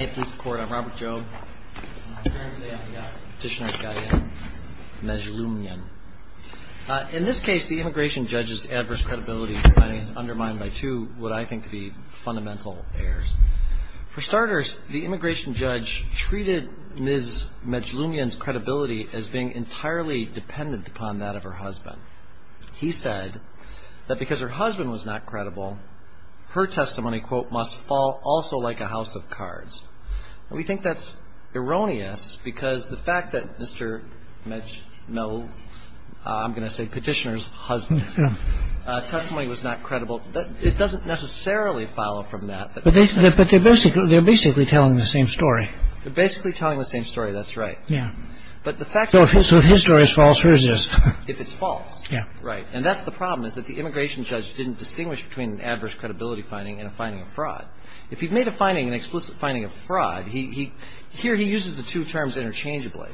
I'm Robert Jobe, and I'm here today on behalf of Petitioner Skyen Mezlumyan. In this case, the immigration judge's adverse credibility finding is undermined by two what I think to be fundamental errors. For starters, the immigration judge treated Ms. Mezlumyan's credibility as being entirely dependent upon that of her husband. He said that because her husband was not credible, her testimony, quote, must fall also like a house of cards. We think that's erroneous because the fact that Mr. Mezlumyan, I'm going to say Petitioner's husband's testimony was not credible, it doesn't necessarily follow from that. But they're basically telling the same story. They're basically telling the same story. That's right. Yeah. So if his story is false, hers is. If it's false. Yeah. Right. And that's the problem, is that the immigration judge didn't distinguish between an adverse credibility finding and a finding of fraud. If he made a finding, an explicit finding of fraud, he – here he uses the two terms interchangeably.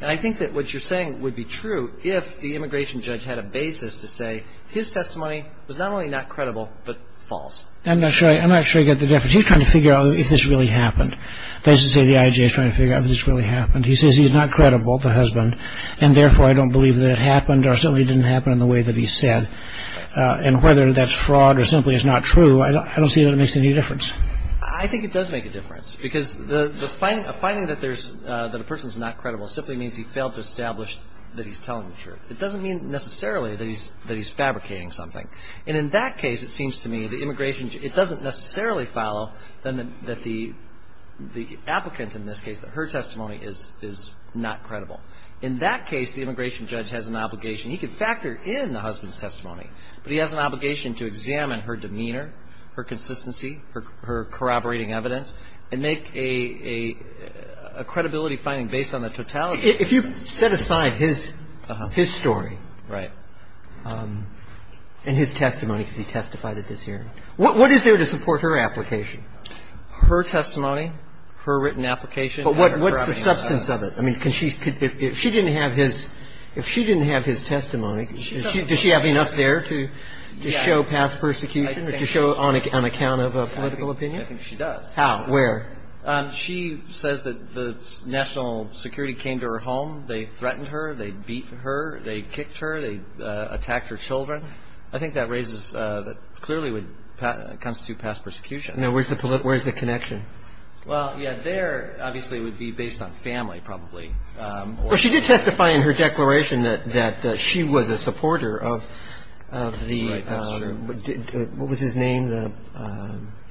And I think that what you're saying would be true if the immigration judge had a basis to say his testimony was not only not credible, but false. I'm not sure I get the difference. He's trying to figure out if this really happened. That is to say, the IJA is trying to figure out if this really happened. He says he's not credible, the husband, and therefore, I don't believe that it happened or certainly didn't happen in the way that he said. And whether that's fraud or simply it's not true, I don't see that it makes any difference. I think it does make a difference. Because the finding that there's – that a person is not credible simply means he failed to establish that he's telling the truth. It doesn't mean necessarily that he's fabricating something. And in that case, it seems to me, the immigration – it doesn't necessarily follow that the applicant, in this case, that her testimony is not credible. In that case, the immigration judge has an obligation – he can factor in the husband's obligation to examine her demeanor, her consistency, her corroborating evidence, and make a credibility finding based on the totality of his testimony. If you set aside his story and his testimony, because he testified at this hearing, what is there to support her application? Her testimony, her written application. But what's the substance of it? I mean, if she didn't have his – if she didn't have his testimony, does she have enough there to show past persecution or to show on account of a political opinion? I think she does. How? Where? She says that the national security came to her home. They threatened her. They beat her. They kicked her. They attacked her children. I think that raises – that clearly would constitute past persecution. Now, where's the – where's the connection? Well, yeah, there, obviously, would be based on family, probably. Well, she did testify in her declaration that she was a supporter of the – Right. That's true. What was his name?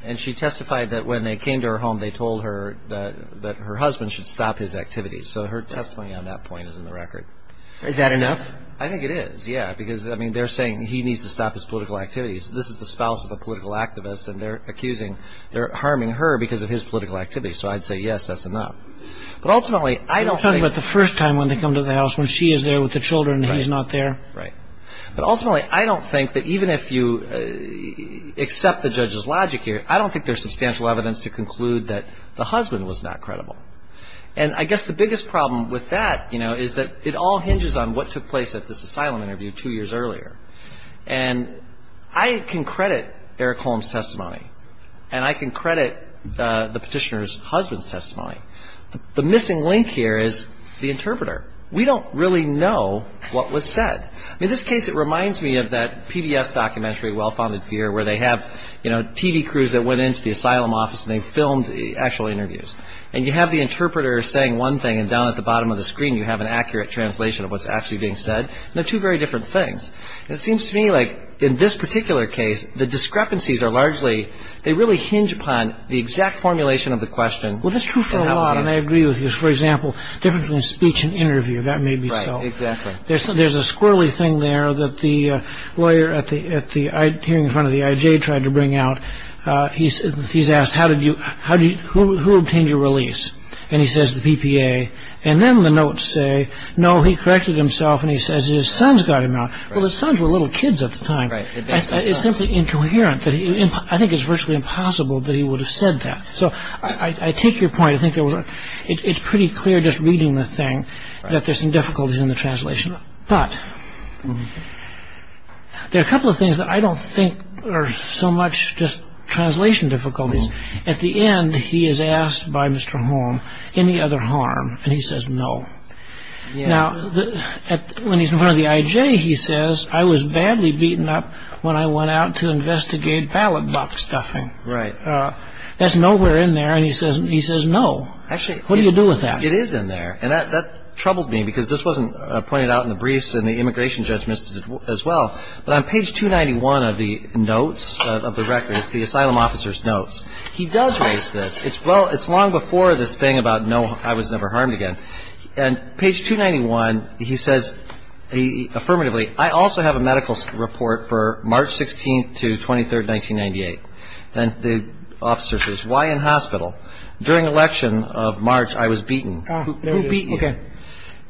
And she testified that when they came to her home, they told her that her husband should stop his activities. So her testimony on that point is in the record. Is that enough? I think it is, yeah. Because, I mean, they're saying he needs to stop his political activities. This is the spouse of a political activist, and they're accusing – they're harming her because of his political activities. So I'd say, yes, that's enough. But ultimately, I don't think – You're talking about the first time when they come to the house, when she is there with the children and he's not there? Right. But ultimately, I don't think that even if you accept the judge's logic here, I don't think there's substantial evidence to conclude that the husband was not credible. And I guess the biggest problem with that, you know, is that it all hinges on what took place at this asylum interview two years earlier. And I can credit Eric Holmes' testimony. And I can credit the petitioner's husband's testimony. The missing link here is the interpreter. We don't really know what was said. I mean, in this case, it reminds me of that PBS documentary, Well-Founded Fear, where they have, you know, TV crews that went into the asylum office and they filmed actual interviews. And you have the interpreter saying one thing, and down at the bottom of the screen, you have an accurate translation of what's actually being said, and they're two very different things. It seems to me like in this particular case, the discrepancies are largely, they really hinge upon the exact formulation of the question. Well, that's true for a lot. And I agree with you. For example, difference between speech and interview. That may be so. Right. Exactly. There's a squirrely thing there that the lawyer at the hearing in front of the IJ tried to bring out. He's asked, who obtained your release? And he says, the PPA. And then the notes say, no, he corrected himself, and he says his sons got him out. Well, his sons were little kids at the time. Right. It's simply incoherent. I think it's virtually impossible that he would have said that. So I take your point, it's pretty clear just reading the thing that there's some difficulties in the translation. But, there are a couple of things that I don't think are so much just translation difficulties. At the end, he is asked by Mr. Holm, any other harm, and he says no. Now, when he's in front of the IJ, he says, I was badly beaten up when I went out to investigate ballot box stuffing. Right. That's nowhere in there. And he says no. Actually. What do you do with that? It is in there. And that troubled me, because this wasn't pointed out in the briefs and the immigration judge missed it as well. But on page 291 of the notes of the record, it's the asylum officer's notes, he does raise this. It's well, it's long before this thing about no, I was never harmed again. And page 291, he says, affirmatively, I also have a medical report for March 16th to 23rd, 1998. And the officer says, why in hospital? During election of March, I was beaten. Who beat you? Okay.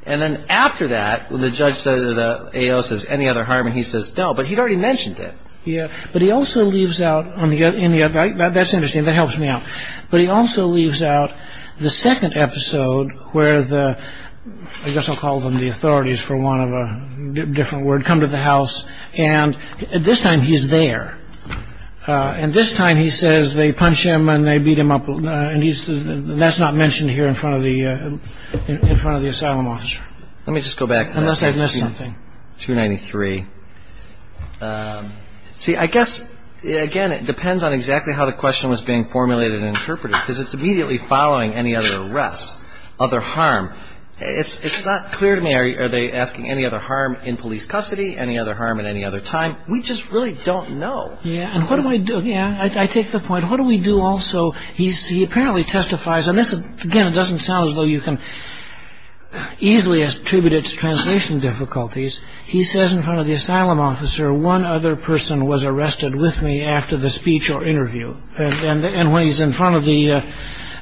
And then after that, when the judge says any other harm, and he says no, but he'd already mentioned it. Yeah. But he also leaves out on the other, that's interesting, that helps me out. But he also leaves out the second episode where the, I guess I'll call them the authorities for one of a different word, come to the house. And this time he's there. And this time he says they punch him and they beat him up. And he's, that's not mentioned here in front of the, in front of the asylum officer. Let me just go back to page 293. See, I guess, again, it depends on exactly how the question was being formulated and interpreted. Because it's immediately following any other arrest, other harm. It's not clear to me, are they asking any other harm in police custody, any other harm at any other time? We just really don't know. Yeah. And what do I do? Yeah. I take the point. What do we do also? He apparently testifies. And this, again, it doesn't sound as though you can easily attribute it to translation difficulties. He says in front of the asylum officer, one other person was arrested with me after the speech or interview. And when he's in front of the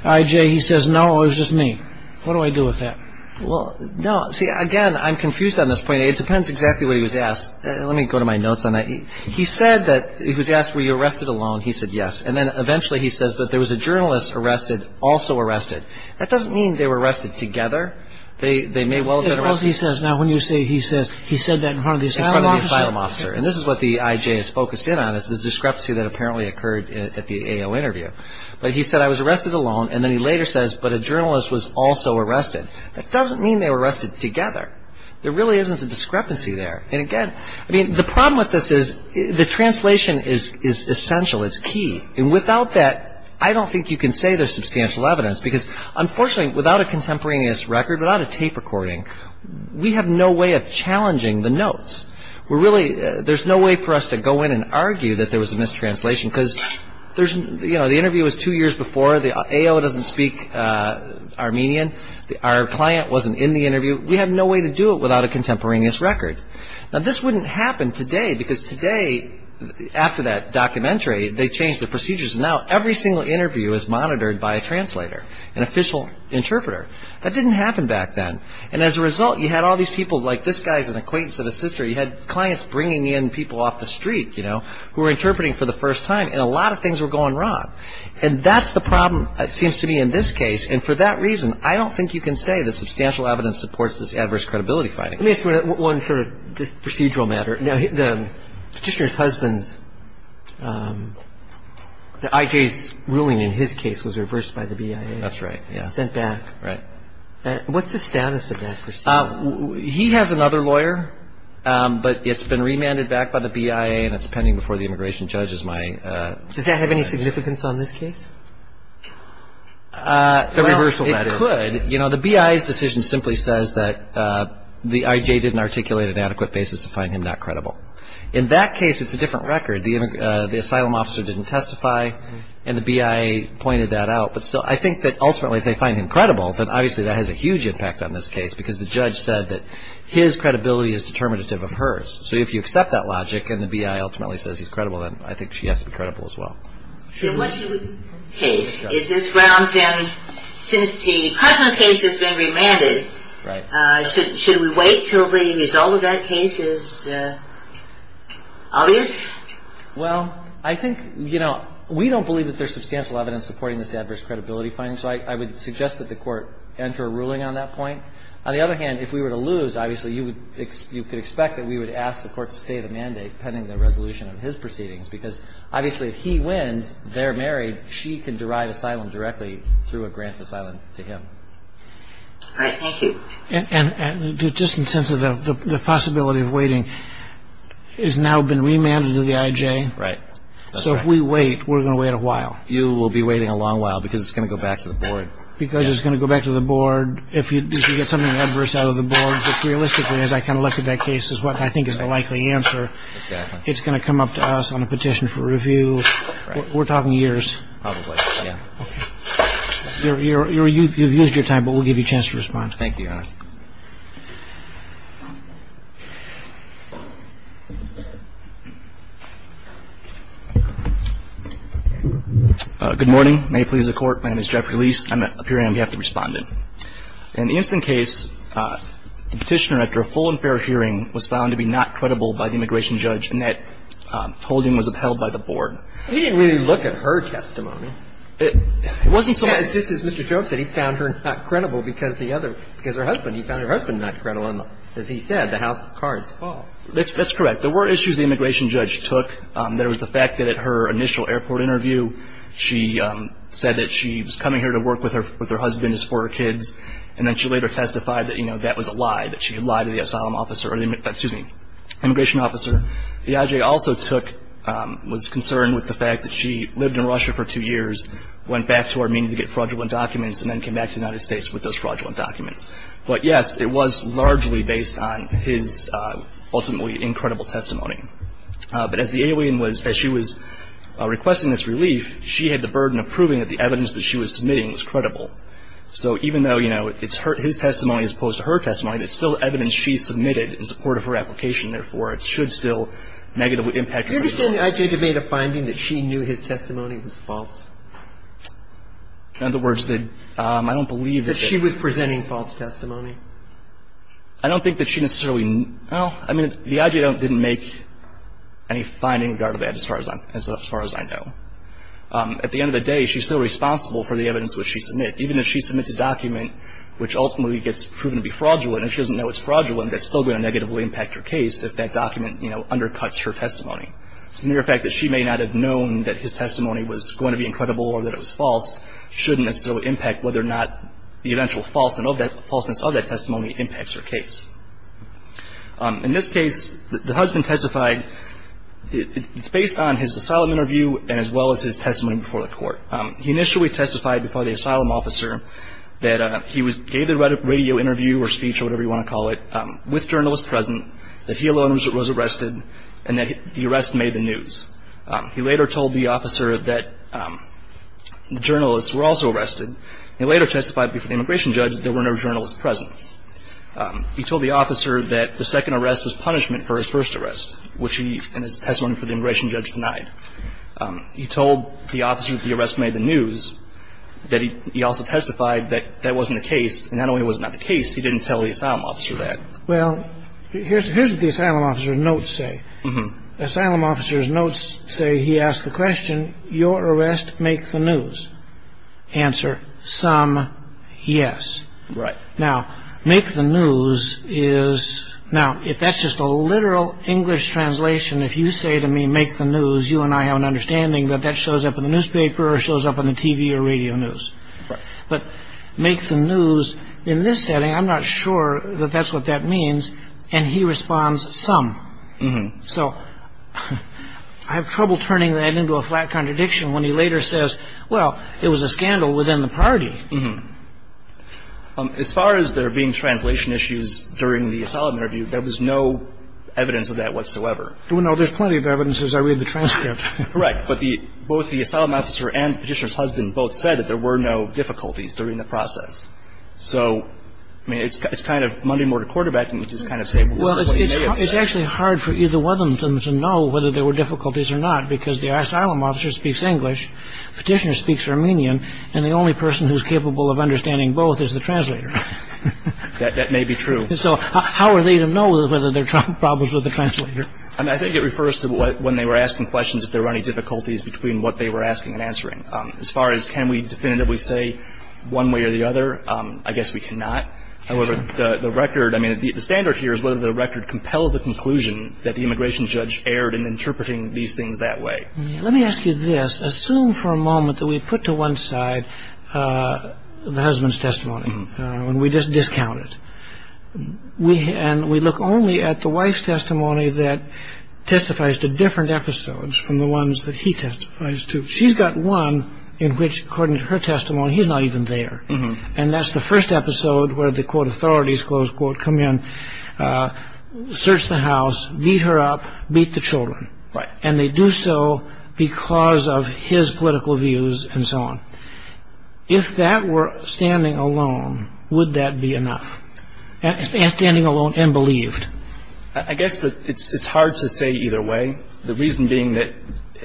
IJ, he says, no, it was just me. What do I do with that? Well, no. See, again, I'm confused on this point. It depends exactly what he was asked. Let me go to my notes on that. He said that, he was asked, were you arrested alone? He said yes. And then eventually he says, but there was a journalist arrested, also arrested. That doesn't mean they were arrested together. They may well have been arrested. Because he says, now, when you say he said, he said that in front of the asylum officer. In front of the asylum officer. And this is what the IJ is focused in on, is the discrepancy that apparently occurred at the AO interview. But he said, I was arrested alone. And then he later says, but a journalist was also arrested. That doesn't mean they were arrested together. There really isn't a discrepancy there. And again, I mean, the problem with this is the translation is essential. It's key. And without that, I don't think you can say there's substantial evidence. Because, unfortunately, without a contemporaneous record, without a tape recording, we have no way of challenging the notes. There's no way for us to go in and argue that there was a mistranslation. Because the interview was two years before. The AO doesn't speak Armenian. Our client wasn't in the interview. We have no way to do it without a contemporaneous record. Now, this wouldn't happen today. Because today, after that documentary, they changed the procedures. Now, every single interview is monitored by a translator, an official interpreter. That didn't happen back then. And as a result, you had all these people like this guy's an acquaintance of a sister. You had clients bringing in people off the street, you know, who were interpreting for the first time. And a lot of things were going wrong. And that's the problem, it seems to me, in this case. And for that reason, I don't think you can say that substantial evidence supports this adverse credibility finding. Let me ask you one sort of procedural matter. Now, the petitioner's husband's, the IJ's ruling in his case was reversed by the BIA. That's right. Yeah. Sent back. Right. What's the status of that proceeding? He has another lawyer. But it's been remanded back by the BIA. And it's pending before the immigration judge as my. Does that have any significance on this case? A reversal, that is. It could. You know, the BIA's decision simply says that the IJ didn't articulate an adequate basis to find him not credible. In that case, it's a different record. The asylum officer didn't testify. And the BIA pointed that out. But still, I think that ultimately, if they find him credible, then obviously that has a huge impact on this case. Because the judge said that his credibility is determinative of hers. So if you accept that logic, and the BIA ultimately says he's credible, then I think she has to be credible as well. So what should we do with this case? Is this grounds them, since the Cushman case has been remanded, should we wait till the result of that case is obvious? Well, I think, you know, we don't believe that there's substantial evidence supporting this adverse credibility finding. So I would suggest that the court enter a ruling on that point. On the other hand, if we were to lose, obviously you could expect that we would ask the court to stay the mandate pending the resolution of his proceedings. Because obviously, if he wins, they're married, she can derive asylum directly through a grant of asylum to him. All right, thank you. And just in terms of the possibility of waiting, it has now been remanded to the IJ. Right. So if we wait, we're going to wait a while. You will be waiting a long while, because it's going to go back to the board. Because it's going to go back to the board, if you get something adverse out of the board. But realistically, as I kind of looked at that case, is what I think is the likely answer. It's going to come up to us on a petition for review. We're talking years. Probably, yeah. You've used your time, but we'll give you a chance to respond. Thank you, Your Honor. Good morning. May it please the court. My name is Jeffrey Lise. I'm appearing on behalf of the respondent. In the instant case, the petitioner, after a full and fair hearing, was found to be not credible by the immigration judge, and that holding was upheld by the board. He didn't really look at her testimony. It wasn't so much. Just as Mr. Jones said, he found her not credible because the other – because her husband. He found her husband not credible, and as he said, the house of cards is false. That's correct. There were issues the immigration judge took. There was the fact that at her initial airport interview, she said that she was coming here to work with her husband and doing this for her kids, and then she later testified that, you know, that was a lie, that she had lied to the asylum officer – or the – excuse me, immigration officer. The IJ also took – was concerned with the fact that she lived in Russia for two years, went back to Armenia to get fraudulent documents, and then came back to the United States with those fraudulent documents. But yes, it was largely based on his ultimately incredible testimony. But as the alien was – as she was requesting this relief, she had the burden of proving that the evidence that she was submitting was credible. So even though, you know, it's her – his testimony as opposed to her testimony, it's still evidence she submitted in support of her application. Therefore, it should still negatively impact her. You understand the IJ made a finding that she knew his testimony was false? In other words, that I don't believe that she – That she was presenting false testimony. I don't think that she necessarily – well, I mean, the IJ didn't make any finding regarding that as far as I know. At the end of the day, she's still responsible for the evidence which she submits. Even if she submits a document which ultimately gets proven to be fraudulent, and she doesn't know it's fraudulent, that's still going to negatively impact her case if that document, you know, undercuts her testimony. It's the mere fact that she may not have known that his testimony was going to be incredible or that it was false shouldn't necessarily impact whether or not the eventual false – the falseness of that testimony impacts her case. In this case, the husband testified – it's based on his asylum interview and as well as his testimony before the court. He initially testified before the asylum officer that he gave the radio interview or speech or whatever you want to call it with journalists present, that he alone was arrested, and that the arrest made the news. He later told the officer that the journalists were also arrested. He later testified before the immigration judge that there were no journalists present. He told the officer that the second arrest was punishment for his first arrest, which he, in his testimony before the immigration judge, denied. He told the officer that the arrest made the news, that he also testified that that wasn't the case, and not only was it not the case, he didn't tell the asylum officer that. Well, here's what the asylum officer's notes say. The asylum officer's notes say he asked the question, Your arrest make the news? Answer, some, yes. Right. Now, make the news is – now, if that's just a literal English translation, if you say to me, make the news, you and I have an understanding that that shows up in the newspaper or shows up on the TV or radio news. Right. But make the news, in this setting, I'm not sure that that's what that means, and he responds, some. So I have trouble turning that into a flat contradiction when he later says, well, it was a scandal within the party. As far as there being translation issues during the asylum interview, there was no evidence of that whatsoever. Well, no, there's plenty of evidence as I read the transcript. Right. But the – both the asylum officer and the petitioner's husband both said that there were no difficulties during the process. So, I mean, it's kind of Monday-mortar quarterbacking, which is kind of saying, well, this is what he may have said. It's actually hard for either one of them to know whether there were difficulties or not, because the asylum officer speaks English, the petitioner speaks Armenian, and the only person who's capable of understanding both is the translator. That may be true. So how are they to know whether there are problems with the translator? I mean, I think it refers to when they were asking questions, if there were any difficulties between what they were asking and answering. As far as can we definitively say one way or the other, I guess we cannot. However, the record – I mean, the standard here is whether the record compels the conclusion that the immigration judge erred in interpreting these things that way. Let me ask you this. Assume for a moment that we put to one side the husband's testimony, and we just discount it. And we look only at the wife's testimony that testifies to different episodes from the ones that he testifies to. She's got one in which, according to her testimony, he's not even there. And that's the first episode where the, quote, authorities, close quote, come in, search the house, beat her up, beat the children. Right. And they do so because of his political views and so on. If that were standing alone, would that be enough, standing alone and believed? I guess that it's hard to say either way. The reason being that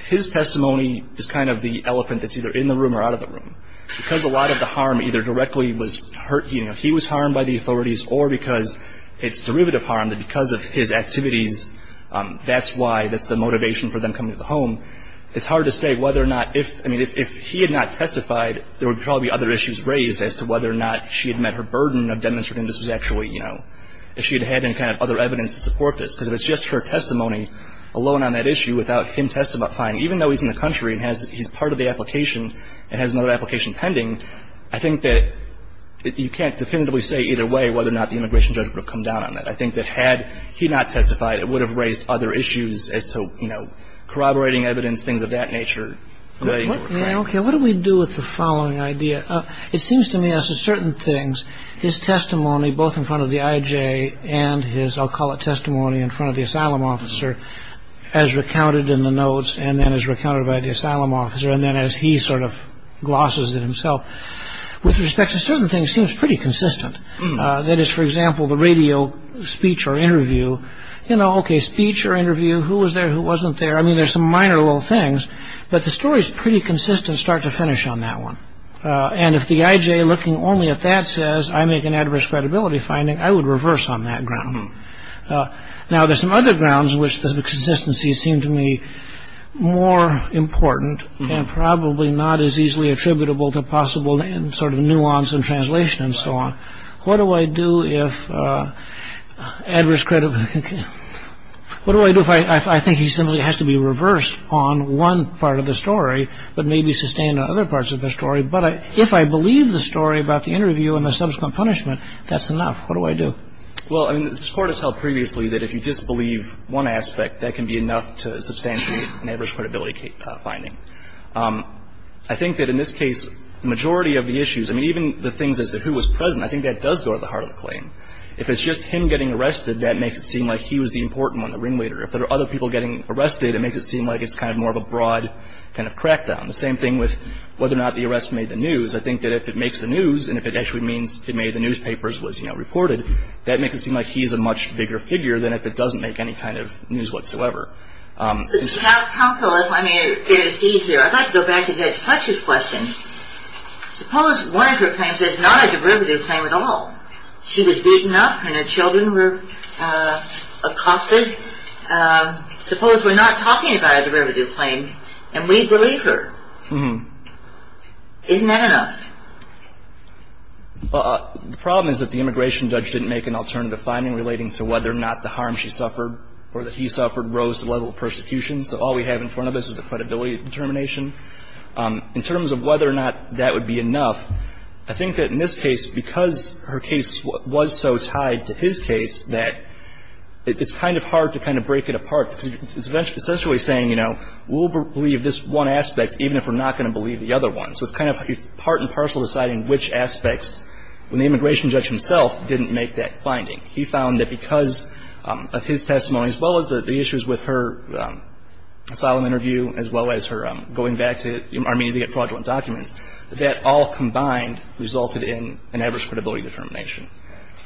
his testimony is kind of the elephant that's either in the room or out of the room. Because a lot of the harm either directly was hurt – you know, he was harmed by the authorities or because it's derivative harm that because of his activities, that's why – that's the motivation for them coming to the home. It's hard to say whether or not – I mean, if he had not testified, there would probably be other issues raised as to whether or not she had met her burden of demonstrating this was actually – you know, if she had had any kind of other evidence to support this. Because if it's just her testimony alone on that issue without him testifying, even though he's in the country and has – I think that you can't definitively say either way whether or not the immigration judge would have come down on that. I think that had he not testified, it would have raised other issues as to, you know, corroborating evidence, things of that nature. What do we do with the following idea? It seems to me as to certain things, his testimony both in front of the IJ and his – I'll call it testimony in front of the asylum officer as recounted in the notes and then as recounted by the asylum officer and then as he sort of glosses it himself. With respect to certain things, it seems pretty consistent. That is, for example, the radio speech or interview. You know, okay, speech or interview, who was there, who wasn't there. I mean, there's some minor little things, but the story's pretty consistent start to finish on that one. And if the IJ looking only at that says, I make an adverse credibility finding, I would reverse on that ground. Now, there's some other grounds which the consistency seemed to me more important and probably not as easily attributable to possible sort of nuance and translation and so on. What do I do if adverse credibility – what do I do if I think he simply has to be reversed on one part of the story but maybe sustained on other parts of the story, but if I believe the story about the interview and the subsequent punishment, that's enough. What do I do? Well, I mean, this Court has held previously that if you disbelieve one aspect, that can be enough to substantiate an adverse credibility finding. I think that in this case, the majority of the issues, I mean, even the things as to who was present, I think that does go to the heart of the claim. If it's just him getting arrested, that makes it seem like he was the important one, the ringleader. If there are other people getting arrested, it makes it seem like it's kind of more of a broad kind of crackdown. The same thing with whether or not the arrest made the news. I think that if it makes the news and if it actually means it made the newspapers, was reported, that makes it seem like he's a much bigger figure than if it doesn't make any kind of news whatsoever. Counsel, if I may, I'd like to go back to Judge Fletcher's question. Suppose one of her claims is not a derivative claim at all. She was beaten up and her children were accosted. Suppose we're not talking about a derivative claim and we believe her. Isn't that enough? The problem is that the immigration judge didn't make an alternative finding relating to whether or not the harm she suffered or that he suffered rose to the level of persecution. So all we have in front of us is the credibility of determination. In terms of whether or not that would be enough, I think that in this case, because her case was so tied to his case that it's kind of hard to kind of break it apart. It's essentially saying, you know, we'll believe this one aspect even if we're not going to believe the other one. So it's kind of part and parcel deciding which aspects when the immigration judge himself didn't make that finding. He found that because of his testimony, as well as the issues with her asylum interview, as well as her going back to Armenia to get fraudulent documents, that all combined resulted in an average credibility determination.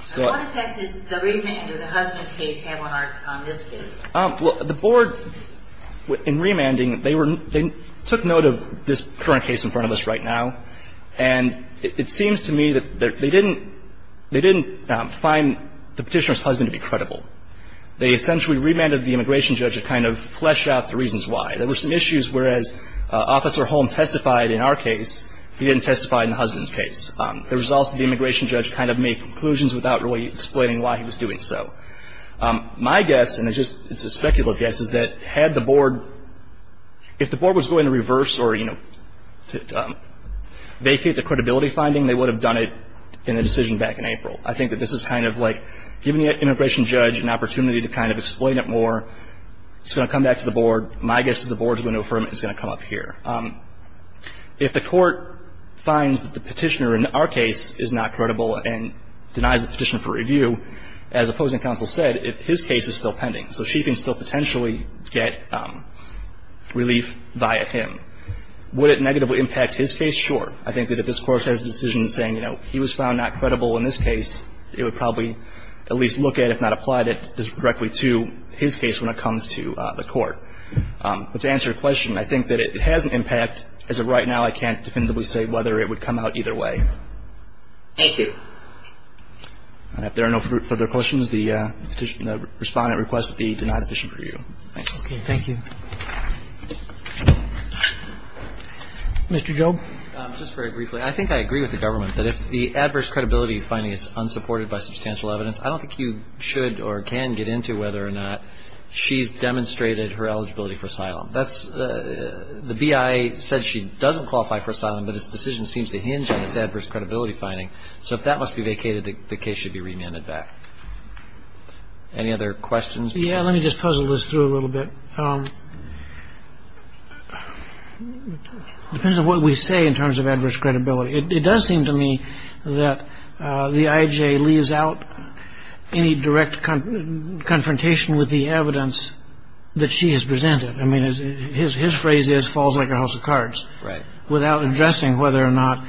So what effect does the remand or the husband's case have on this case? Well, the board in remanding, they took note of this current case in front of us right now, and it seems to me that they didn't find the Petitioner's husband to be credible. They essentially remanded the immigration judge to kind of flesh out the reasons why. There were some issues where, as Officer Holm testified in our case, he didn't testify in the husband's case. The results of the immigration judge kind of made conclusions without really explaining why he was doing so. My guess, and it's just a speculative guess, is that had the board, if the board was going to reverse or, you know, vacate the credibility finding, they would have done it in the decision back in April. I think that this is kind of like giving the immigration judge an opportunity to kind of explain it more. It's going to come back to the board. My guess is the board's going to affirm it and it's going to come up here. If the court finds that the Petitioner in our case is not credible and denies the Petitioner for review, as opposing counsel said, if his case is still pending, so she can still potentially get relief via him, would it negatively impact his case? Sure. I think that if this Court has a decision saying, you know, he was found not credible in this case, it would probably at least look at, if not applied it directly to his case when it comes to the court. But to answer your question, I think that it has an impact. As of right now, I can't definitively say whether it would come out either way. Thank you. And if there are no further questions, the Respondent requests the denied Petition for review. Okay. Thank you. Mr. Jobe. Just very briefly, I think I agree with the government that if the adverse credibility finding is unsupported by substantial evidence, I don't think you should or can get into whether or not she's demonstrated her eligibility for asylum. That's the BIA said she doesn't qualify for asylum, but his decision seems to hinge on this adverse credibility finding. So if that must be vacated, the case should be remanded back. Any other questions? Yeah, let me just puzzle this through a little bit. Depends on what we say in terms of adverse credibility. It does seem to me that the IJ leaves out any direct confrontation with the evidence that she has presented. I mean, his phrase is falls like a house of cards. Right. Without addressing whether or not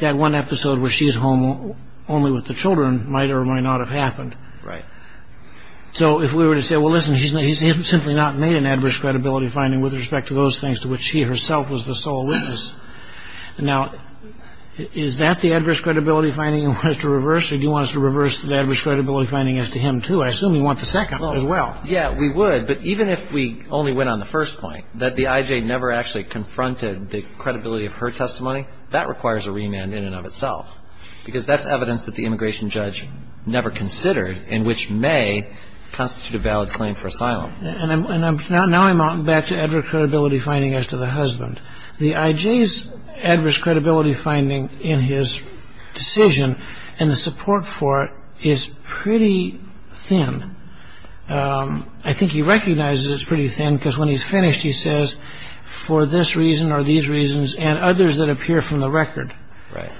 that one episode where she's home only with the children might or might not have happened. Right. So if we were to say, well, listen, he's simply not made an adverse credibility finding with respect to those things to which she herself was the sole witness. Now, is that the adverse credibility finding you want us to reverse or do you want us to reverse the adverse credibility finding as to him, too? I assume you want the second as well. Yeah, we would. But even if we only went on the first point, that the IJ never actually confronted the credibility of her testimony, that requires a remand in and of itself. Because that's evidence that the immigration judge never considered and which may constitute a valid claim for asylum. And now I'm back to adverse credibility finding as to the husband. The IJ's adverse credibility finding in his decision and the support for it is pretty thin. I think he recognizes it's pretty thin because when he's finished, he says, for this reason or these reasons and others that appear from the record. Right.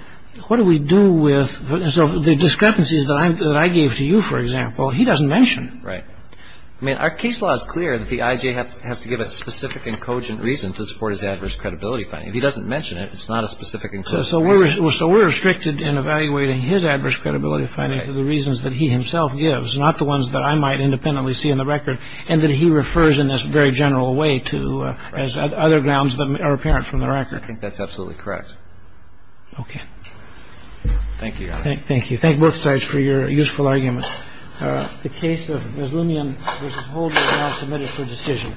What do we do with the discrepancies that I gave to you, for example, he doesn't mention. Right. I mean, our case law is clear that the IJ has to give a specific and cogent reason to support his adverse credibility finding. If he doesn't mention it, it's not a specific. So so we're so we're restricted in evaluating his adverse credibility finding for the reasons that he himself gives, not the ones that I might independently see in the record and that he refers in this very general way to as other grounds that are apparent from the record. I think that's absolutely correct. OK, thank you. Thank you. Thank both sides for your useful argument. The case of Muslimian was submitted for decision.